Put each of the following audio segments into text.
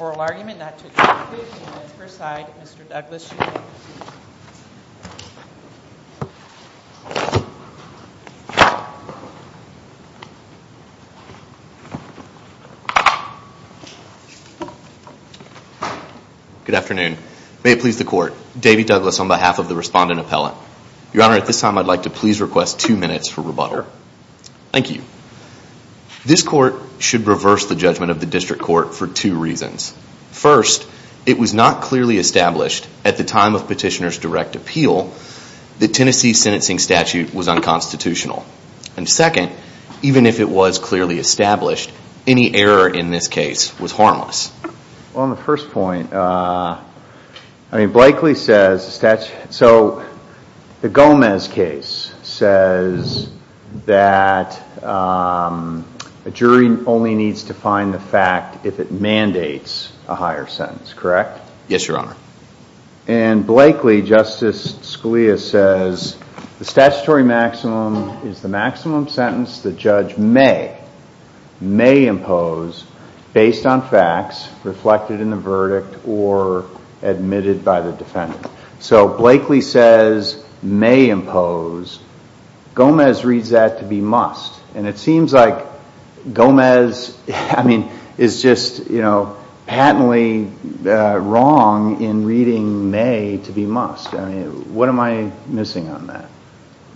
oral argument not to be included and that is presided by Mr. Douglas Shearer. Good afternoon. May it please the court. David Douglas on behalf of the respondent appellate. Your honor, at this time I would like to request two minutes for rebuttal. Thank you. This court should reverse the judgment of the district court for two reasons. First, it was not clearly established at the time of petitioner's direct appeal that Tennessee's sentencing statute was unconstitutional. And second, even if it was clearly established, any error in this case was harmless. On the first point, Blakely says, so the Gomez case says that a jury only needs to find the fact if it mandates a higher sentence, correct? Yes, your honor. And Blakely, Justice Scalia says the statutory maximum is the maximum sentence the judge may impose based on facts reflected in the verdict or admitted by the defendant. So Blakely says may impose, Gomez reads that to be must. And it seems like Gomez is just patently wrong in reading may to be must. What am I missing on that?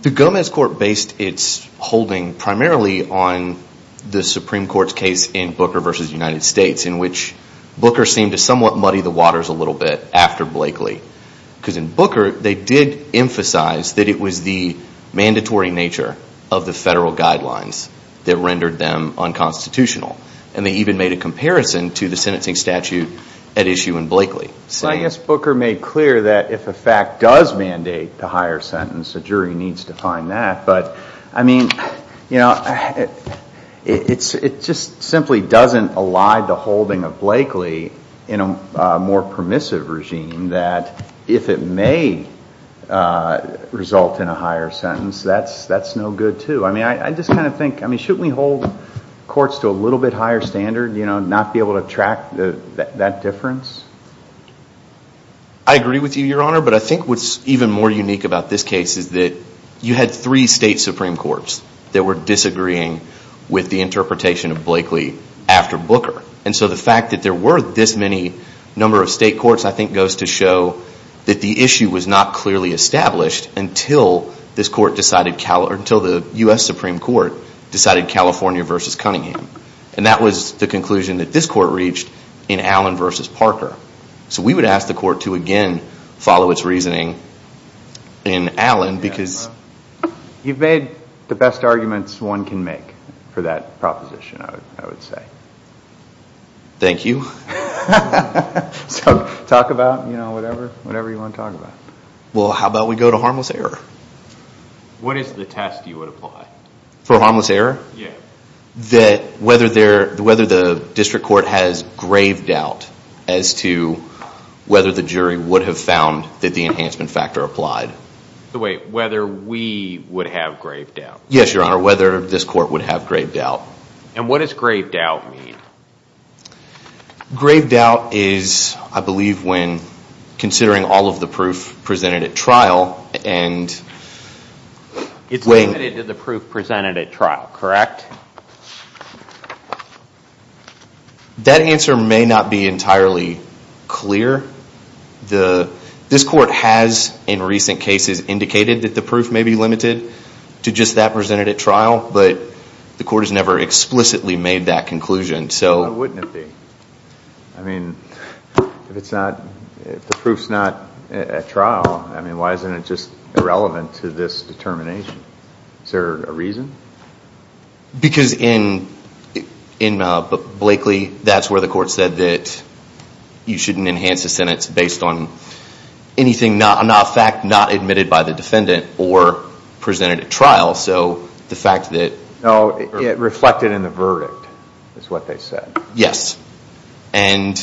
The Gomez court based its holding primarily on the Supreme Court's case in Booker versus United States in which Booker seemed to somewhat muddy the waters a little bit after Blakely. Because in Booker, they did emphasize that it was the mandatory nature of the federal guidelines that rendered them unconstitutional. And they even made a comparison to the sentencing statute at issue in Blakely. I guess Booker made clear that if a fact does mandate the higher sentence, the jury needs to find that. But I mean, it just simply doesn't elide the holding of Blakely in a more permissive regime that if it may result in a higher sentence, that's no good too. I mean, I just kind of think, I mean, shouldn't we hold courts to a little bit higher standard, you know, not be able to track that difference? I agree with you, Your Honor. But I think what's even more unique about this case is that you had three state Supreme Courts that were disagreeing with the interpretation of Blakely after Booker. And so the fact that there were this many number of state courts, I think, goes to show that the issue was not clearly established until this court decided, or until the U.S. Supreme Court decided California versus Cunningham. And that was the conclusion that this court reached in Allen versus Parker. So we would ask the court to again follow its reasoning in Allen because... You've made the best arguments one can make for that proposition, I would say. Thank you. So talk about, you know, whatever you want to talk about. Well, how about we go to harmless error? What is the test you would apply? For harmless error? Yeah. That whether the district court has grave doubt as to whether the jury would have found that the enhancement factor applied. Wait, whether we would have grave doubt? Yes, Your Honor, whether this court would have grave doubt. And what does grave doubt mean? Grave doubt is, I believe, when considering all of the proof presented at trial and... Limited to the proof presented at trial, correct? That answer may not be entirely clear. This court has, in recent cases, indicated that the proof may be limited to just that presented at trial, but the court has never explicitly made that conclusion, so... Why wouldn't it be? I mean, if it's not, if the proof's not at trial, I mean, why isn't it just irrelevant to this determination? Is there a reason? Because in Blakely, that's where the court said that you shouldn't enhance a sentence based on anything, not a fact not admitted by the defendant or presented at trial, so the fact that... No, it reflected in the verdict, is what they said. Yes, and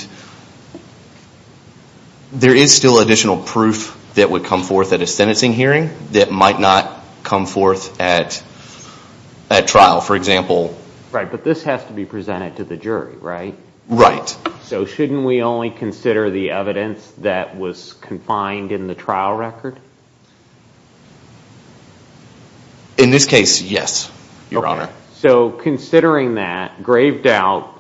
there is still additional proof that would come forth at a sentencing hearing that might not come forth at trial, for example... Right, but this has to be presented to the jury, right? Right. So shouldn't we only consider the evidence that was confined in the trial record? In this case, yes, Your Honor. So considering that, grave doubt,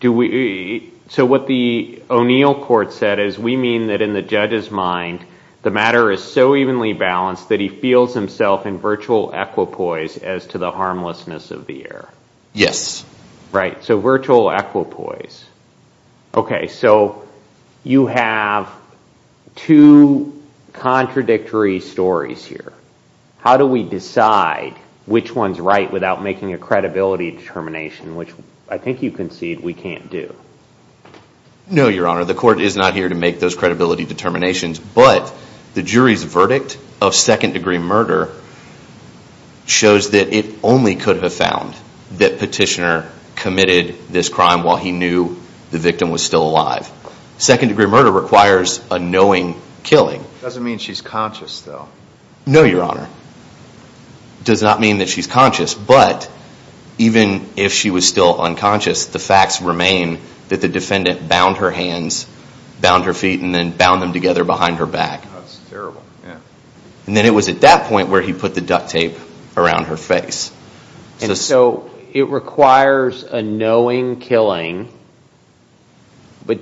do we... So what the O'Neill court said is, we mean that in the judge's mind, the matter is so evenly balanced that he feels himself in virtual equipoise as to the harmlessness of the error. Yes. Right, so virtual equipoise. Okay, so you have two contradictory stories here. How do we decide which one's right without making a credibility determination, which I think you concede we can't do. No, Your Honor, the court is not here to make those credibility determinations, but the jury's verdict of second-degree murder shows that it only could have found that Petitioner committed this crime while he knew the victim was still alive. Second-degree murder requires a knowing killing. Doesn't mean she's conscious, though. No, Your Honor. Does not mean that she's conscious, but even if she was still unconscious, the facts remain that the defendant bound her hands, bound her feet, and then bound them together behind her back. That's terrible, yeah. And then it was at that point where he put the duct tape around her face. And so it requires a knowing killing, but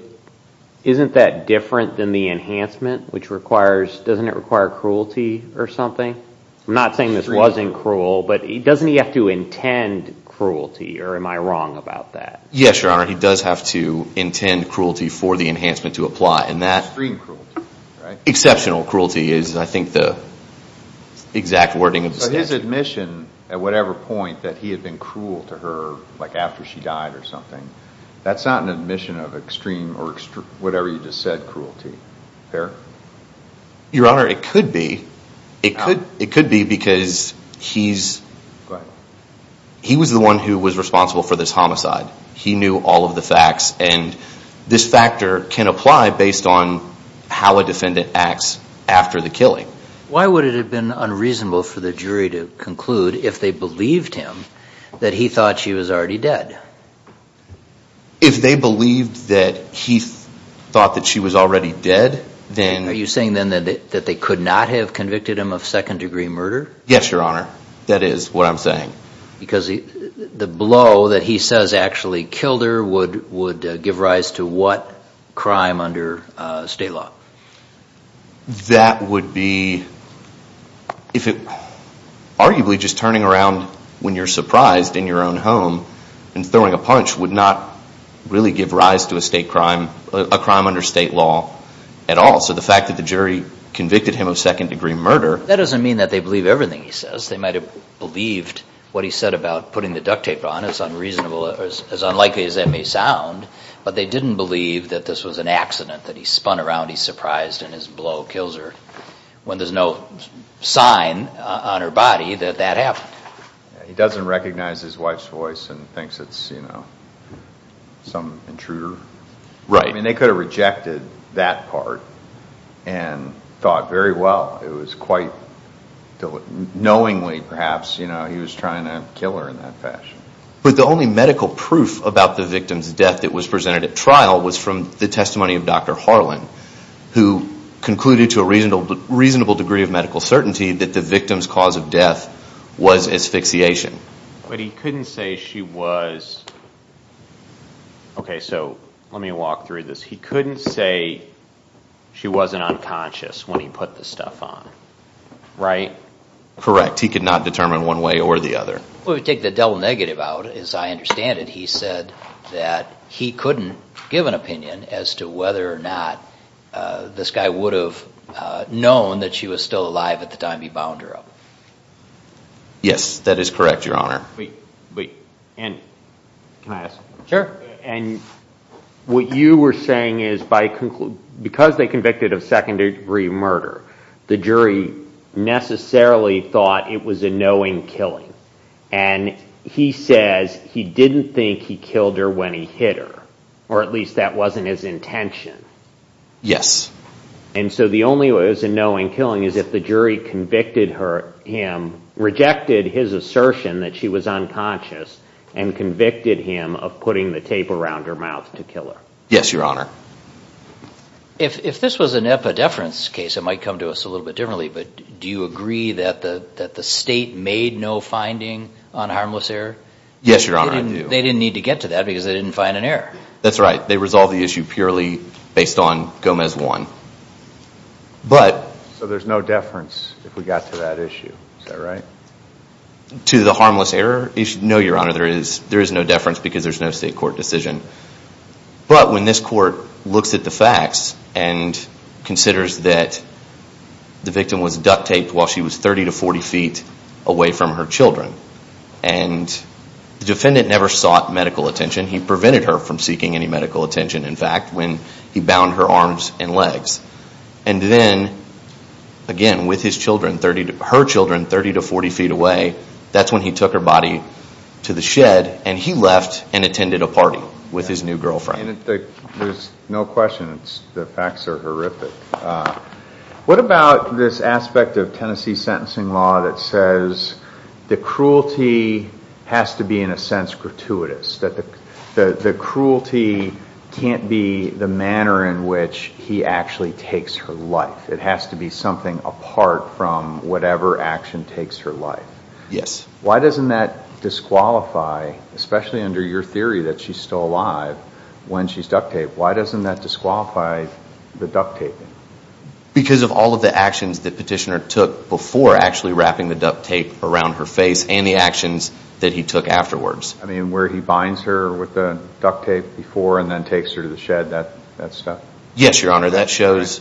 isn't that different than the enhancement, which requires, doesn't it require cruelty or something? I'm not saying this wasn't cruel, but doesn't he have to intend cruelty, or am I wrong about that? Yes, Your Honor, he does have to intend cruelty for the enhancement to apply. And that exceptional cruelty is, I think, the exact wording of the statute. So his admission at whatever point that he had been cruel to her, like after she died or something, that's not an admission of extreme or whatever you just said, cruelty. Fair? Your Honor, it could be. It could be because he was the one who was responsible for this homicide. He knew all of the facts. And this factor can apply based on how a defendant acts after the killing. Why would it have been unreasonable for the jury to conclude, if they believed him, that he thought she was already dead? If they believed that he thought that she was already dead, then... Are you saying then that they could not have convicted him of second degree murder? Yes, Your Honor, that is what I'm saying. Because the blow that he says actually killed her would give rise to what crime under state law? That would be... If it... Arguably, just turning around when you're surprised in your own home and throwing a punch would not really give rise to a crime under state law at all. So the fact that the jury convicted him of second degree murder... That doesn't mean that they believe everything he says. They might have believed what he said about putting the duct tape on. It's unreasonable, as unlikely as that may sound. But they didn't believe that this was an accident, that he spun around, he's surprised, and his blow kills her. When there's no sign on her body that that happened. He doesn't recognize his wife's voice and thinks it's, you know, some intruder. Right. I mean, they could have rejected that part and thought very well. It was quite knowingly, perhaps, you know, he was trying to kill her in that fashion. But the only medical proof about the victim's death that was presented at trial was from the testimony of Dr. Harlan, who concluded to a reasonable degree of medical certainty that the victim's cause of death was asphyxiation. But he couldn't say she was... Okay, so let me walk through this. He couldn't say she wasn't unconscious when he put the stuff on, right? Correct. He could not determine one way or the other. Well, we take the double negative out, as I understand it. He said that he couldn't give an opinion as to whether or not this guy would have known that she was still alive at the time he bound her up. Yes, that is correct, Your Honor. And can I ask? Sure. And what you were saying is, because they convicted of second-degree murder, the jury necessarily thought it was a knowing killing. And he says he didn't think he killed her when he hit her, or at least that wasn't his intention. Yes. And so the only way it was a knowing killing is if the jury convicted him, rejected his assertion that she was unconscious, and convicted him of putting the tape around her mouth to kill her. Yes, Your Honor. If this was an epidephrin case, it might come to us a little bit differently, but do you agree that the state made no finding on harmless error? Yes, Your Honor, I do. They didn't need to get to that because they didn't find an error. That's right. They resolved the issue purely based on Gomez 1. But... So there's no deference if we got to that issue, is that right? To the harmless error issue? No, Your Honor, there is no deference because there's no state court decision. But when this court looks at the facts and considers that the victim was duct taped while she was 30 to 40 feet away from her children, and the defendant never sought medical attention, he prevented her from seeking any medical attention, in fact, when he bound her arms and legs. And then, again, with her children 30 to 40 feet away, that's when he took her body to the shed, and he left and attended a party with his new girlfriend. And there's no question, the facts are horrific. What about this aspect of Tennessee sentencing law that says the cruelty has to be, in a sense, gratuitous, that the cruelty can't be the manner in which he actually takes her life. It has to be something apart from whatever action takes her life. Yes. Why doesn't that disqualify, especially under your theory that she's still alive when she's duct taped, why doesn't that disqualify the duct taping? Because of all of the actions that Petitioner took before actually wrapping the duct tape around her face, and the actions that he took afterwards. I mean, where he binds her with the duct tape before, and then takes her to the shed, that stuff? Yes, Your Honor, that shows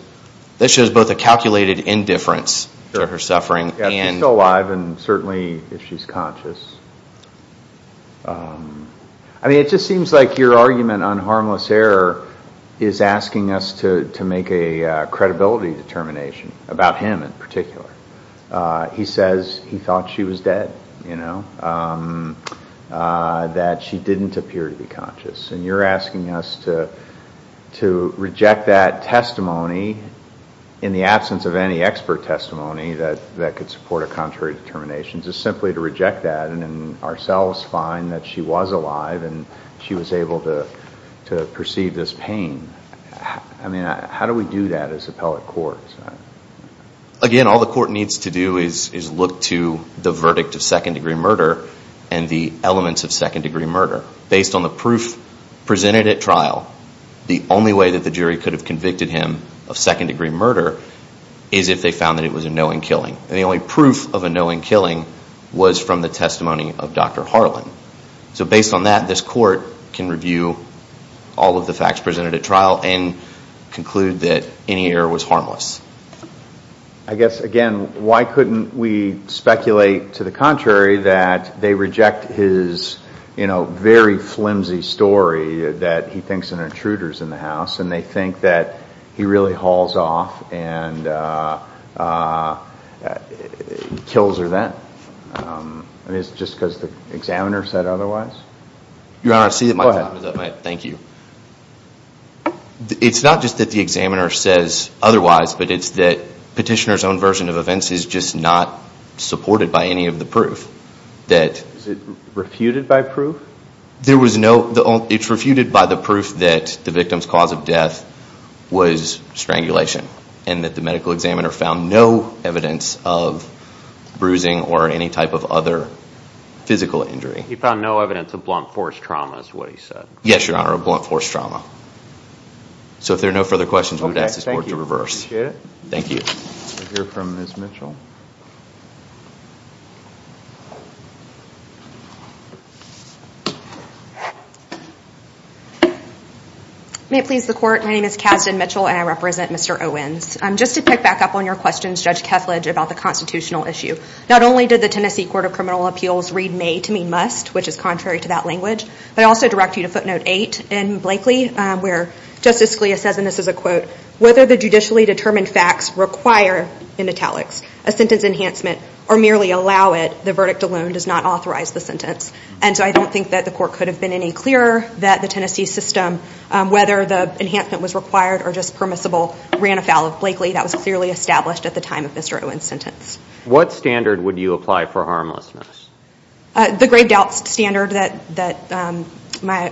both a calculated indifference to her suffering. Yes, she's still alive, and certainly, if she's conscious. I mean, it just seems like your argument on harmless error is asking us to make a credibility determination, about him in particular. He says he thought she was dead, that she didn't appear to be conscious. In the absence of any expert testimony that could support a contrary determination, just simply to reject that, and then ourselves find that she was alive, and she was able to perceive this pain. I mean, how do we do that as appellate courts? Again, all the court needs to do is look to the verdict of second degree murder, and the elements of second degree murder. Based on the proof presented at trial, the only way that the jury could have a second degree murder, is if they found that it was a knowing killing. And the only proof of a knowing killing was from the testimony of Dr. Harlan. So based on that, this court can review all of the facts presented at trial, and conclude that any error was harmless. I guess, again, why couldn't we speculate to the contrary, that they reject his very flimsy story, that he thinks an intruder's in the house, and they think that he really hauls off, and kills her then. I mean, is it just because the examiner said otherwise? Your Honor, I see that my time is up. Thank you. It's not just that the examiner says otherwise, but it's that petitioner's own version of events is just not supported by any of the proof. Is it refuted by proof? It's refuted by the proof that the victim's cause of death was strangulation, and that the medical examiner found no evidence of bruising, or any type of other physical injury. He found no evidence of blunt force trauma, is what he said. Yes, Your Honor, a blunt force trauma. So if there are no further questions, we would ask this court to reverse. Thank you. We'll hear from Ms. Mitchell. May it please the court, my name is Kasdan Mitchell, and I represent Mr. Owens. Just to pick back up on your questions, Judge Kethledge, about the constitutional issue, not only did the Tennessee Court of Criminal Appeals read may to mean must, which is contrary to that language, but I also direct you to footnote eight in Blakely, where Justice Scalia says, and this is a quote, whether the judicially determined facts require, in italics, a sentence enhancement, or merely allow it, the verdict alone does not authorize the sentence. And so I don't think that the court could have been any clearer that the Tennessee system, whether the enhancement was required or just permissible, ran afoul of Blakely. That was clearly established at the time of Mr. Owens' sentence. What standard would you apply for harmlessness? The grave doubt standard that my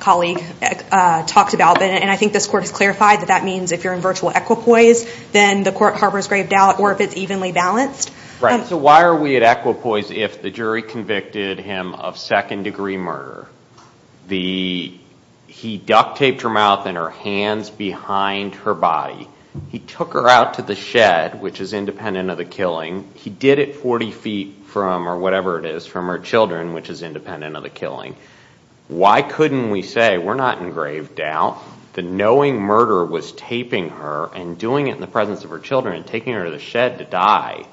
colleague talked about, and I think this court has clarified that that means if you're in virtual equipoise, then the court harbors grave doubt, or if it's evenly balanced. So why are we at equipoise if the jury convicted him of second degree murder? He duct taped her mouth and her hands behind her body. He took her out to the shed, which is independent of the killing. He did it 40 feet from, or whatever it is, from her children, which is independent of the killing. Why couldn't we say, we're not in grave doubt, the knowing murder was taping her and doing it in the presence of her children, and taking her to the shed to die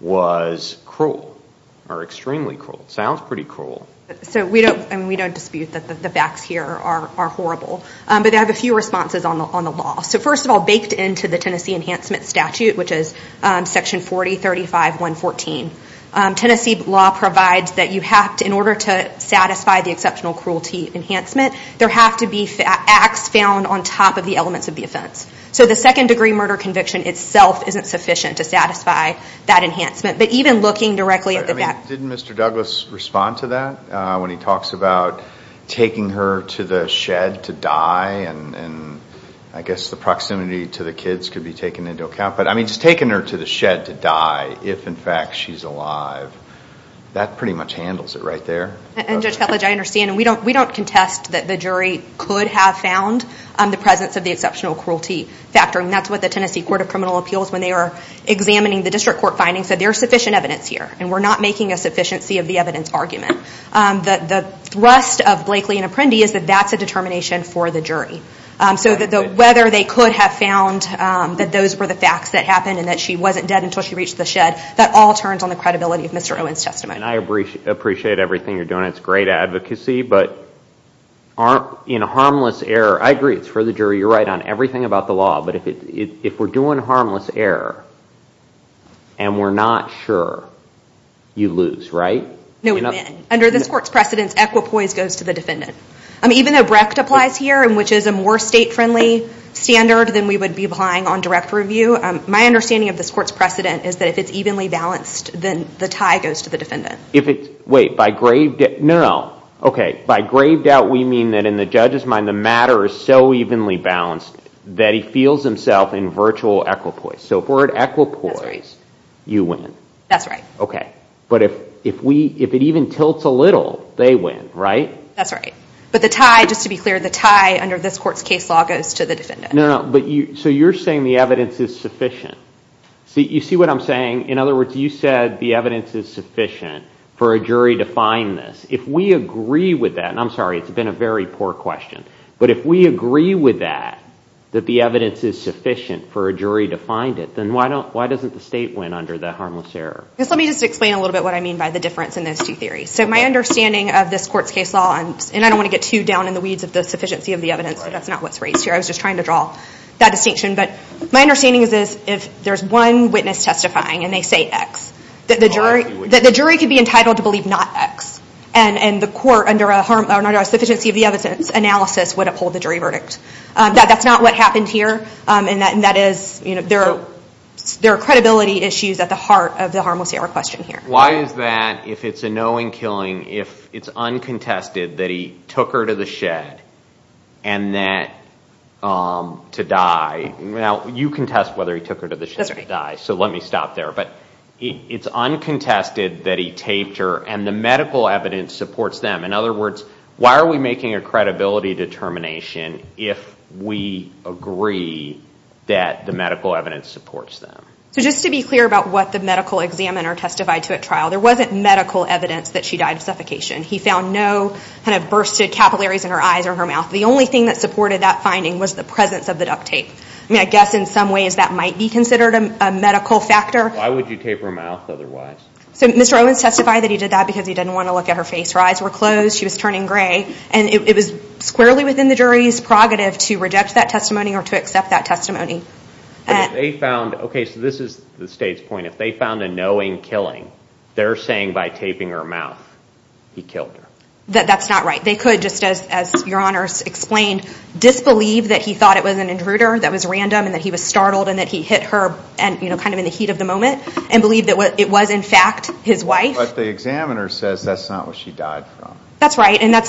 was cruel, or extremely cruel? It sounds pretty cruel. So we don't dispute that the facts here are horrible. But I have a few responses on the law. So first of all, baked into the Tennessee Enhancement Statute, which is Section 4035-114, Tennessee law provides that in order to satisfy the exceptional cruelty enhancement, there have to be acts found on top of the elements of the offense. So the second degree murder conviction itself isn't sufficient to satisfy that enhancement. But even looking directly at the fact... Didn't Mr. Douglas respond to that? When he talks about taking her to the shed to die, and I guess the proximity to the kids could be taken into account. But I mean, just taking her to the shed to die, if in fact she's alive, that pretty much handles it right there. And Judge Ketledge, I understand. We don't contest that the jury could have found the presence of the exceptional cruelty factor. And that's what the Tennessee Court of Criminal Appeals, when they were examining the district court findings, said there's sufficient evidence here. And we're not making a sufficiency of the evidence argument. The thrust of Blakely and Apprendi is that that's a determination for the jury. So whether they could have found that those were the facts that happened, and that she wasn't dead until she reached the shed, that all turns on the credibility of Mr. Owen's testimony. And I appreciate everything you're doing. And it's great advocacy. But in a harmless error, I agree, it's for the jury. You're right on everything about the law. But if we're doing harmless error, and we're not sure, you lose, right? No, we win. Under this court's precedence, equipoise goes to the defendant. Even though Brecht applies here, which is a more state-friendly standard than we would be applying on direct review, my understanding of this court's precedent is that if it's evenly balanced, then the tie goes to the defendant. Wait, by grave doubt, we mean that in the judge's mind, the matter is so evenly balanced that he feels himself in virtual equipoise. So for an equipoise, you win. That's right. But if it even tilts a little, they win, right? That's right. But the tie, just to be clear, the tie under this court's case law goes to the defendant. So you're saying the evidence is sufficient. In other words, you said the evidence is sufficient. For a jury to find this, if we agree with that, and I'm sorry, it's been a very poor question, but if we agree with that, that the evidence is sufficient for a jury to find it, then why doesn't the state win under the harmless error? Let me just explain a little bit what I mean by the difference in those two theories. So my understanding of this court's case law, and I don't want to get too down in the weeds of the sufficiency of the evidence, but that's not what's raised here. I was just trying to draw that distinction. But my understanding is this. If there's one witness testifying, and they say X, that the jury could be entitled to believe not X. And the court, under a sufficiency of the evidence analysis, would uphold the jury verdict. That's not what happened here. There are credibility issues at the heart of the harmless error question here. Why is that, if it's a knowing killing, if it's uncontested that he took her to the shed to die? Now, you contest whether he took her to the shed to die, so let me stop there. But it's uncontested that he taped her, and the medical evidence supports them. In other words, why are we making a credibility determination if we agree that the medical evidence supports them? So just to be clear about what the medical examiner testified to at trial, there wasn't medical evidence that she died of suffocation. He found no kind of bursted capillaries in her eyes or her mouth. The only thing that supported that finding was the presence of the duct tape. I mean, I guess in some ways that might be considered a medical factor. Why would you tape her mouth otherwise? So Mr. Owens testified that he did that because he didn't want to look at her face. Her eyes were closed, she was turning gray, and it was squarely within the jury's prerogative to reject that testimony or to accept that testimony. Okay, so this is the state's point. If they found a knowing killing, they're saying by taping her mouth, he killed her. That's not right. They could, just as your honors explained, disbelieve that he thought it was an intruder, that was random, and that he was startled and that he hit her kind of in the heat of the moment and believe that it was in fact his wife. But the examiner says that's not what she died from. That's right, and that's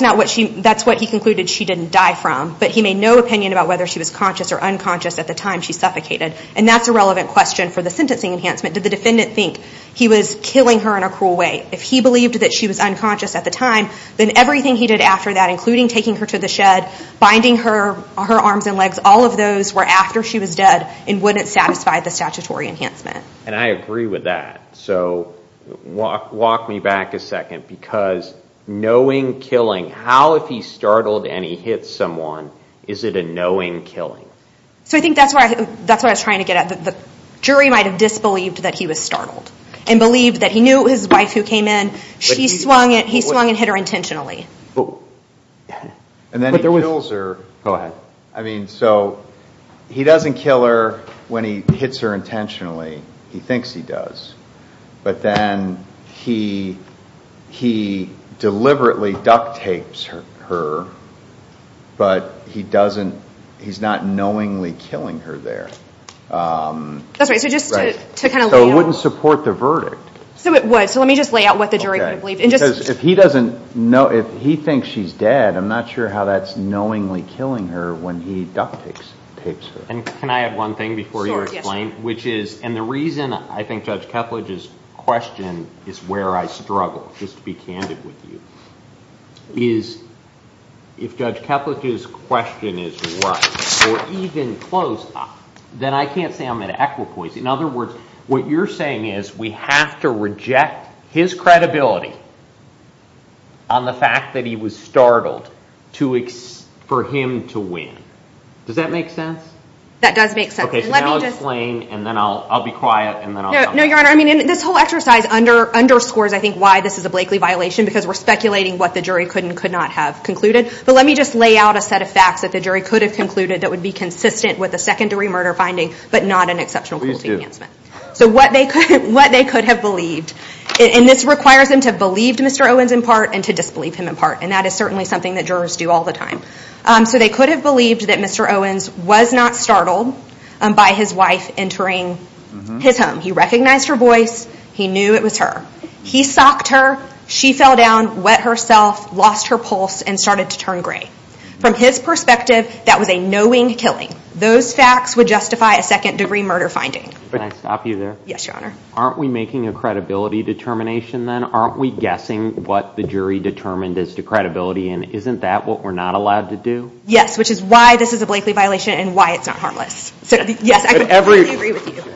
what he concluded she didn't die from. But he made no opinion about whether she was conscious or unconscious at the time she suffocated. And that's a relevant question for the sentencing enhancement. Did the defendant think he was killing her in a cruel way? If he believed that she was unconscious at the time, then everything he did after that, including taking her to the shed, binding her arms and legs, all of those were after she was dead and wouldn't satisfy the statutory enhancement. And I agree with that, so walk me back a second, because knowing killing, how if he's startled and he hits someone, is it a knowing killing? So I think that's what I was trying to get at. The jury might have disbelieved that he was startled and believed that he knew it was his wife who came in. He swung and hit her intentionally. And then he kills her. Go ahead. I mean, so he doesn't kill her when he hits her intentionally. He thinks he does. But then he deliberately duct tapes her, but he's not knowingly killing her there. That's right, so just to kind of lay out. So it wouldn't support the verdict. So it would, so let me just lay out what the jury would have believed. Because if he doesn't know, if he thinks she's dead, I'm not sure how that's knowingly killing her when he duct tapes her. And can I add one thing before you explain? Sure, yes. Which is, and the reason I think Judge Keplech's question is where I struggle, just to be candid with you, is if Judge Keplech's question is right or even close, then I can't say I'm an equipoise. In other words, what you're saying is we have to reject his credibility on the fact that he was startled for him to win. Does that make sense? That does make sense. Okay, so now explain, and then I'll be quiet, and then I'll come back. No, Your Honor, I mean, this whole exercise underscores, I think, why this is a Blakely violation. Because we're speculating what the jury could and could not have concluded. But let me just lay out a set of facts that the jury could have concluded that would be consistent with a secondary murder finding, but not an exceptional cruelty enhancement. Please do. So what they could have believed. And this requires them to have believed Mr. Owens in part and to disbelieve him in part. And that is certainly something that jurors do all the time. So they could have believed that Mr. Owens was not startled by his wife entering his home. He recognized her voice. He knew it was her. He socked her. She fell down, wet herself, lost her pulse, and started to turn gray. From his perspective, that was a knowing killing. Can I stop you there? Yes, Your Honor. Aren't we making a credibility determination then? Aren't we guessing what the jury determined as to credibility? And isn't that what we're not allowed to do? Yes, which is why this is a Blakely violation and why it's not harmless. Yes, I completely agree with you.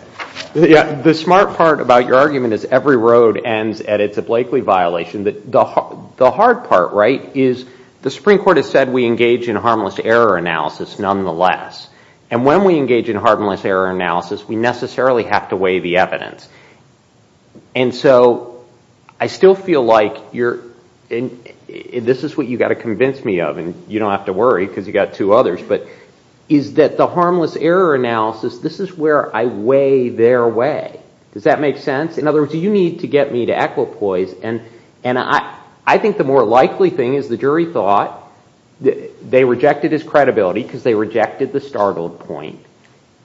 The smart part about your argument is every road ends at it's a Blakely violation. The hard part, right, is the Supreme Court has said we engage in harmless error analysis nonetheless. And when we engage in harmless error analysis, we necessarily have to weigh the evidence. And so I still feel like this is what you've got to convince me of. And you don't have to worry because you've got two others. But is that the harmless error analysis, this is where I weigh their way. Does that make sense? In other words, you need to get me to equipoise. And I think the more likely thing is the jury thought they rejected his credibility because they rejected the startled point.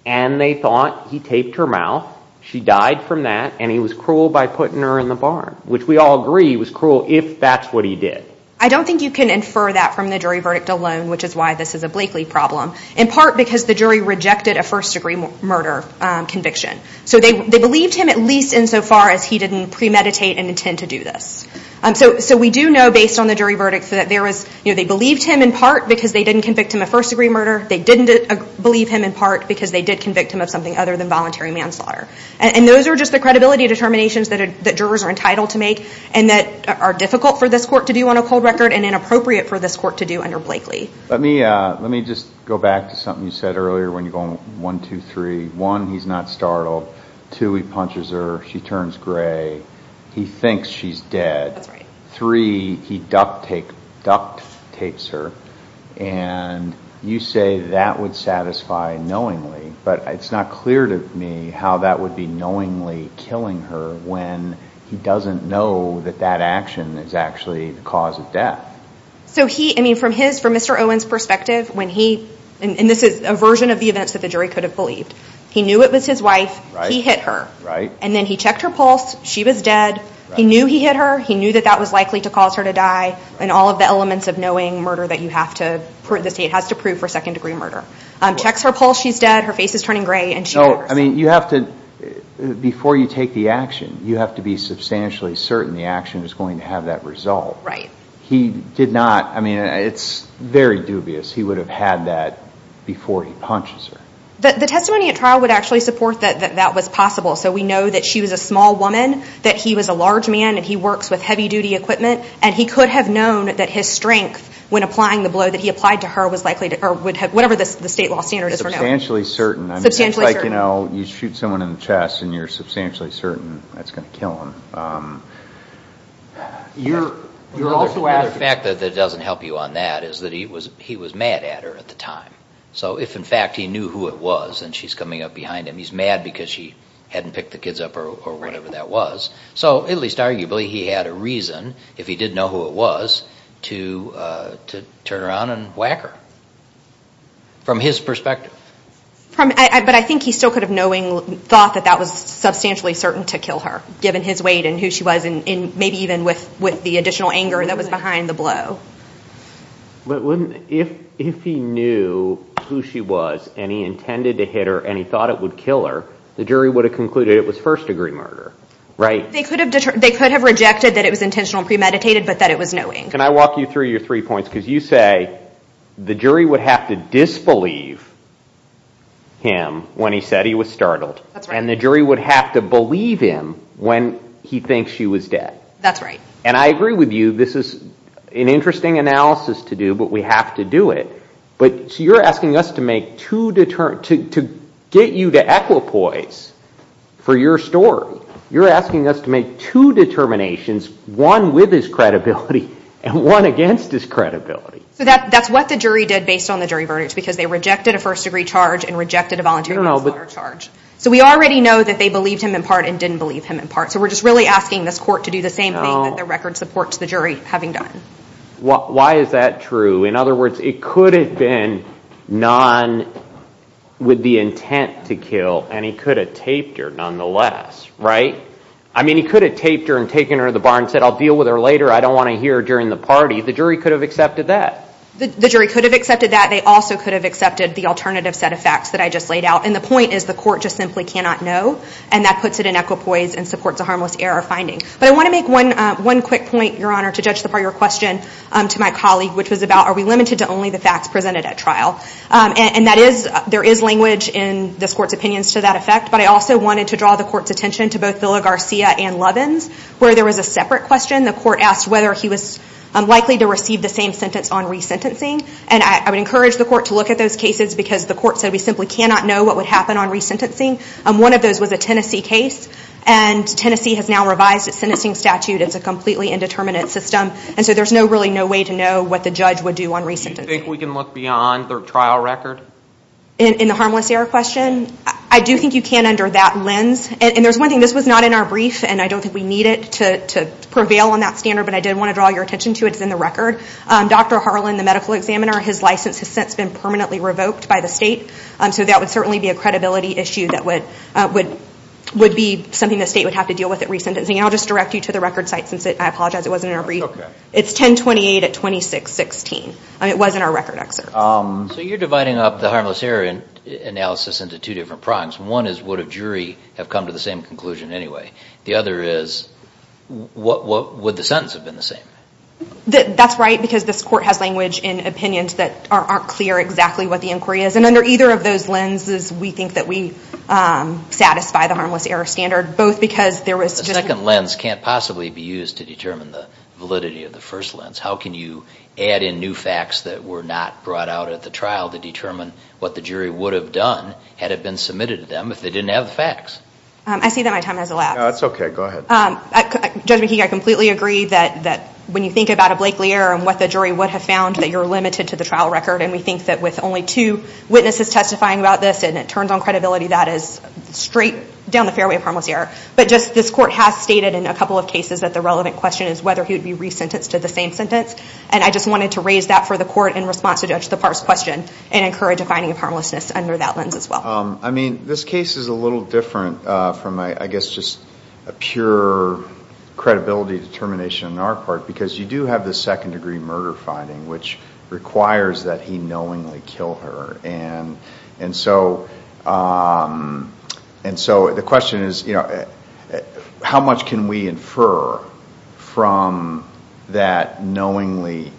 And they thought he taped her mouth, she died from that, and he was cruel by putting her in the barn. Which we all agree he was cruel if that's what he did. I don't think you can infer that from the jury verdict alone, which is why this is a Blakely problem. In part because the jury rejected a first degree murder conviction. So they believed him at least insofar as he didn't premeditate and intend to do this. So we do know based on the jury verdict that they believed him in part because they didn't convict him of first degree murder, they didn't believe him in part because they did convict him of something other than voluntary manslaughter. And those are just the credibility determinations that jurors are entitled to make and that are difficult for this court to do on a cold record and inappropriate for this court to do under Blakely. Let me just go back to something you said earlier when you're going one, two, three. One, he's not startled. Two, he punches her, she turns gray, he thinks she's dead. Three, he duct tapes her and you say that would satisfy knowingly, but it's not clear to me how that would be knowingly killing her when he doesn't know that that action is actually the cause of death. So he, I mean from his, from Mr. Owen's perspective, when he, and this is a version of the events that the jury could have believed. He knew it was his wife, he hit her. Right. And then he checked her pulse, she was dead. He knew he hit her, he knew that that was likely to cause her to die and all of the elements of knowing murder that you have to, the state has to prove for second degree murder. Checks her pulse, she's dead, her face is turning gray and she knows. No, I mean, you have to, before you take the action, you have to be substantially certain the action is going to have that result. Right. He did not, I mean, it's very dubious. He would have had that before he punches her. The testimony at trial would actually support that that was possible. So we know that she was a small woman, that he was a large man, and he works with heavy duty equipment. And he could have known that his strength when applying the blow that he applied to her was likely to, or would have, whatever the state law standard is for knowing. Substantially certain. Substantially certain. I mean, it's like, you know, you shoot someone in the chest and you're substantially certain that's going to kill them. You're also asking. The other fact that doesn't help you on that is that he was, he was mad at her at the time. So if in fact he knew who it was and she's coming up behind him, he's mad because she hadn't picked the kids up or whatever that was. So at least arguably he had a reason, if he did know who it was, to turn around and whack her. From his perspective. But I think he still could have knowingly thought that that was substantially certain to kill her, given his weight and who she was, and maybe even with the additional anger that was behind the blow. But wouldn't, if he knew who she was and he intended to hit her and he thought it would kill her, the jury would have concluded it was first degree murder. Right? They could have rejected that it was intentional and premeditated, but that it was knowing. Can I walk you through your three points? Because you say the jury would have to disbelieve him when he said he was startled. That's right. And the jury would have to believe him when he thinks she was dead. That's right. And I agree with you. This is an interesting analysis to do, but we have to do it. You're asking us to get you to equipoise for your story. You're asking us to make two determinations, one with his credibility and one against his credibility. So that's what the jury did based on the jury verdict, because they rejected a first degree charge and rejected a voluntary manslaughter charge. So we already know that they believed him in part and didn't believe him in part. So we're just really asking this court to do the same thing that the record supports the jury having done. Why is that true? In other words, it could have been none with the intent to kill, and he could have taped her nonetheless, right? I mean, he could have taped her and taken her to the bar and said, I'll deal with her later. I don't want to hear her during the party. The jury could have accepted that. The jury could have accepted that. They also could have accepted the alternative set of facts that I just laid out. And the point is the court just simply cannot know, and that puts it in equipoise and supports a harmless error finding. But I want to make one quick point, Your Honor, to judge the part of your question, to my colleague, which was about, are we limited to only the facts presented at trial? And that is, there is language in this court's opinions to that effect. But I also wanted to draw the court's attention to both Villa Garcia and Lovins, where there was a separate question. The court asked whether he was likely to receive the same sentence on resentencing. And I would encourage the court to look at those cases because the court said we simply cannot know what would happen on resentencing. One of those was a Tennessee case. And Tennessee has now revised its sentencing statute. It's a completely indeterminate system. And so there's really no way to know what the judge would do on resentencing. Do you think we can look beyond the trial record? In the harmless error question? I do think you can under that lens. And there's one thing. This was not in our brief, and I don't think we need it to prevail on that standard. But I did want to draw your attention to it. It's in the record. Dr. Harlan, the medical examiner, his license has since been permanently revoked by the state. So that would certainly be a credibility issue that would be something the state would have to deal with at resentencing. I'll just direct you to the record site since I apologize it wasn't in our brief. It's 1028 at 2616. It was in our record excerpt. So you're dividing up the harmless error analysis into two different prongs. One is would a jury have come to the same conclusion anyway? The other is would the sentence have been the same? That's right because this court has language and opinions that aren't clear exactly what the inquiry is. And under either of those lenses, we think that we satisfy the harmless error standard The second lens can't possibly be used to determine the validity of the first lens. How can you add in new facts that were not brought out at the trial to determine what the jury would have done had it been submitted to them if they didn't have the facts? I see that my time has elapsed. No, that's okay. Go ahead. Judge McKee, I completely agree that when you think about a Blakely error and what the jury would have found, that you're limited to the trial record. And we think that with only two witnesses testifying about this and it turns on credibility, that is straight down the fairway of harmless error. But just this court has stated in a couple of cases that the relevant question is whether he would be resentenced to the same sentence. And I just wanted to raise that for the court in response to Judge Thapar's question and encourage a finding of harmlessness under that lens as well. I mean, this case is a little different from, I guess, just a pure credibility determination on our part because you do have the second degree murder finding which requires that he knowingly kill her. And so the question is, how much can we infer from that knowingly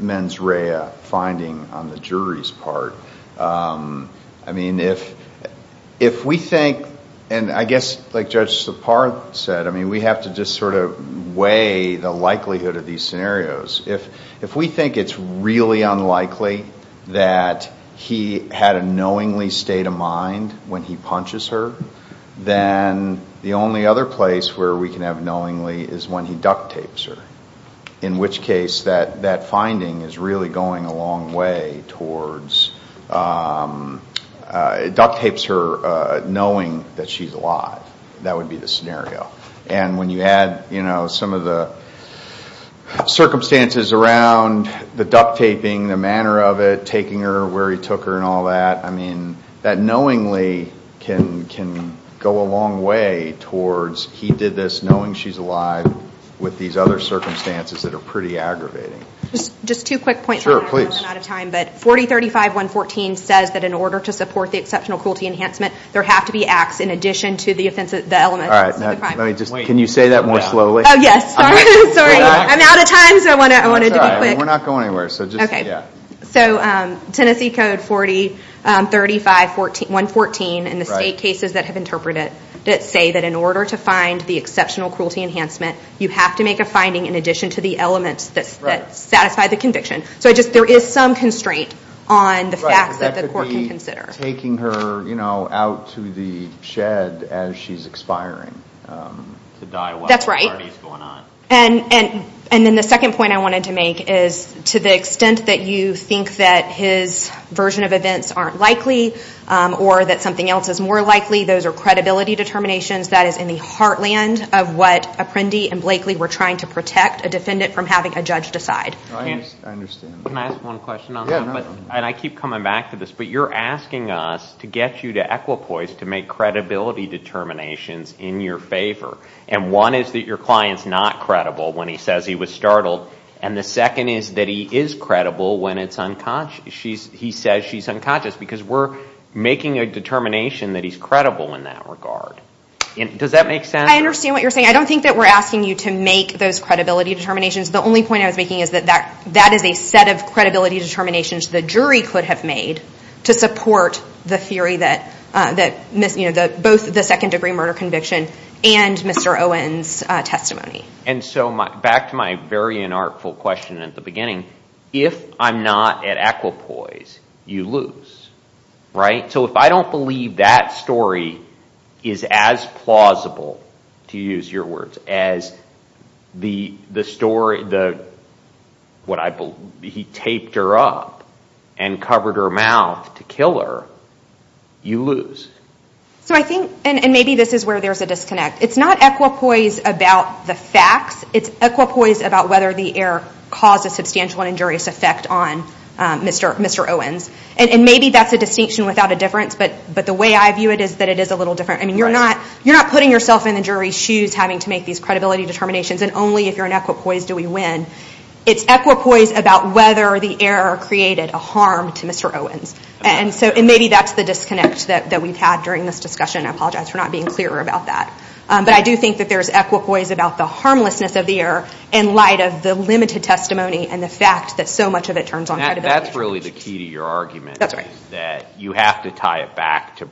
mens rea finding on the jury's part? I mean, if we think, and I guess like Judge Thapar said, I mean, we have to just sort of weigh the likelihood of these scenarios. If we think it's really unlikely that he had a knowingly state of mind when he punches her, then the only other place where we can have knowingly is when he duct tapes her. In which case, that finding is really going a long way towards, duct tapes her knowing that she's alive. That would be the scenario. And when you add some of the circumstances around the duct taping, the manner of it, taking her where he took her and all that, I mean, that knowingly can go a long way towards he did this knowing she's alive with these other circumstances that are pretty aggravating. Just two quick points. Sure, please. 4035114 says that in order to support the exceptional cruelty enhancement, there have to be acts in addition to the elements of the crime. Can you say that more slowly? Yes, sorry. I'm out of time, so I wanted to be quick. We're not going anywhere, so just, yeah. So Tennessee Code 4035114 and the state cases that have interpreted it that say that in order to find the exceptional cruelty enhancement, you have to make a finding in addition to the elements that satisfy the conviction. So there is some constraint on the facts that the court can consider. Taking her, you know, out to the shed as she's expiring. To die while the party's going on. That's right. And then the second point I wanted to make is to the extent that you think that his version of events aren't likely or that something else is more likely, those are credibility determinations that is in the heartland of what Apprendi and Blakely were trying to protect a defendant from having a judge decide. I understand. Can I ask one question on that? Yeah. And I keep coming back to this, but you're asking us to get you to equipoise to make credibility determinations in your favor. And one is that your client's not credible when he says he was startled. And the second is that he is credible when he says she's unconscious. Because we're making a determination that he's credible in that regard. Does that make sense? I understand what you're saying. I don't think that we're asking you to make those credibility determinations. The only point I was making is that that is a set of credibility determinations the jury could have made to support the theory that both the second degree murder conviction and Mr. Owen's testimony. And so back to my very inartful question at the beginning, if I'm not at equipoise, you lose. Right? So if I don't believe that story is as plausible, to use your words, as the story, what I believe, he taped her up and covered her mouth to kill her, you lose. So I think, and maybe this is where there's a disconnect, it's not equipoise about the facts, it's equipoise about whether the error caused a substantial and injurious effect on Mr. Owen's. And maybe that's a distinction without a difference, but the way I view it is that it is a little different. You're not putting yourself in the jury's shoes having to make these credibility determinations and only if you're in equipoise do we win. It's equipoise about whether the error created a harm to Mr. Owen's. And maybe that's the disconnect that we've had during this discussion. I apologize for not being clearer about that. But I do think that there's equipoise about the harmlessness of the error in light of the limited testimony and the fact that so much of it turns on credibility. That's really the key to your argument. That's right. You have to tie it back to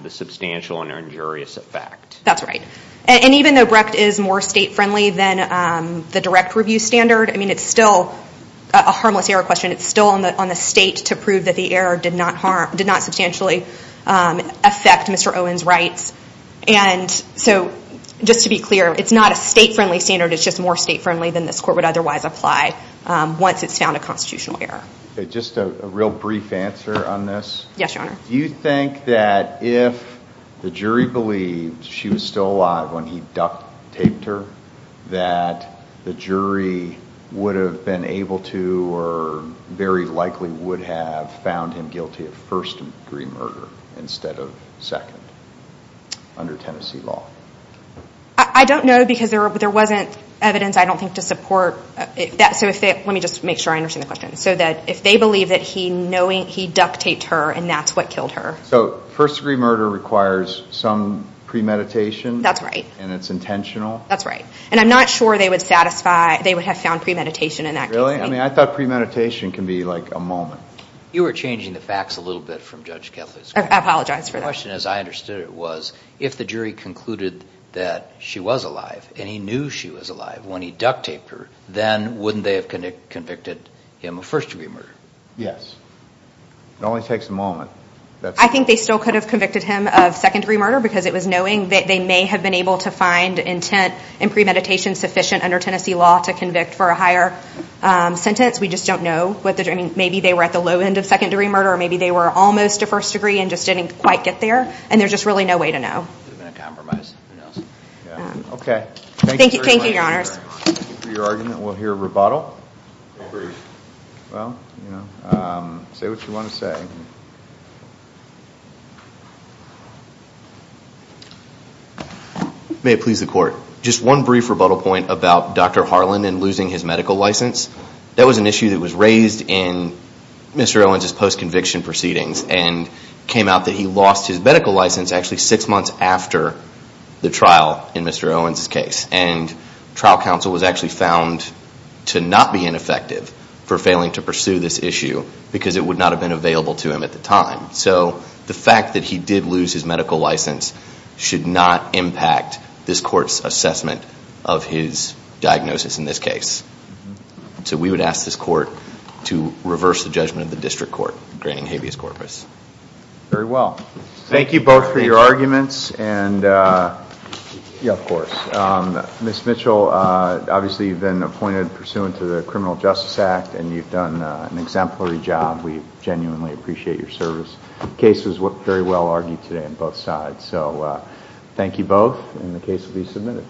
the substantial and injurious effect. That's right. And even though Brecht is more state-friendly than the direct review standard, I mean, it's still a harmless error question. It's still on the state to prove that the error did not harm, did not substantially affect Mr. Owen's rights. And so, just to be clear, it's not a state-friendly standard, it's just more state-friendly than this court would otherwise apply once it's found a constitutional error. Just a real brief answer on this. Yes, Your Honor. Do you think that if the jury believed she was still alive when he duct-taped her, that the jury would have been able to or very likely would have found him guilty of first-degree murder instead of second under Tennessee law? I don't know because there wasn't evidence, I don't think, to support that. Let me just make sure I understand the question. So that if they believe that he duct-taped her and that's what killed her. So first-degree murder requires some premeditation? That's right. And it's intentional? That's right. And I'm not sure they would satisfy, they would have found premeditation in that case. Really? I mean, I thought premeditation can be like a moment. You were changing the facts a little bit from Judge Kethley's court. I apologize for that. The question, as I understood it, was if the jury concluded that she was alive and he knew she was alive when he duct-taped her, then wouldn't they have convicted him of first-degree murder? Yes. It only takes a moment. I think they still could have convicted him of second-degree murder because it was knowing that they may have been able to find intent and premeditation sufficient under Tennessee law to convict for a higher sentence. We just don't know. Maybe they were at the low end of second-degree murder or maybe they were almost to first degree and just didn't quite get there and there's just really no way to know. It would have been a compromise. Okay. Thank you, Your Honors. Thank you for your argument. We'll hear a rebuttal. A brief. Well, say what you want to say. May it please the Court. Just one brief rebuttal point about Dr. Harlan and losing his medical license. That was an issue that was raised in Mr. Owens' post-conviction proceedings and came out that he lost his medical license actually six months after the trial in Mr. Owens' case. And trial counsel was actually found to not be ineffective for failing to pursue this issue because it would not have been available to him at the time. So the fact that he did lose his medical license should not impact this Court's assessment of his diagnosis in this case. So we would ask this Court to reverse the judgment of the District Court granting habeas corpus. Very well. Thank you both for your arguments. Yeah, of course. Ms. Mitchell, obviously you've been appointed pursuant to the Criminal Justice Act and you've done an exemplary job. We genuinely appreciate your service. The case was very well argued today on both sides. So thank you both and the case will be submitted.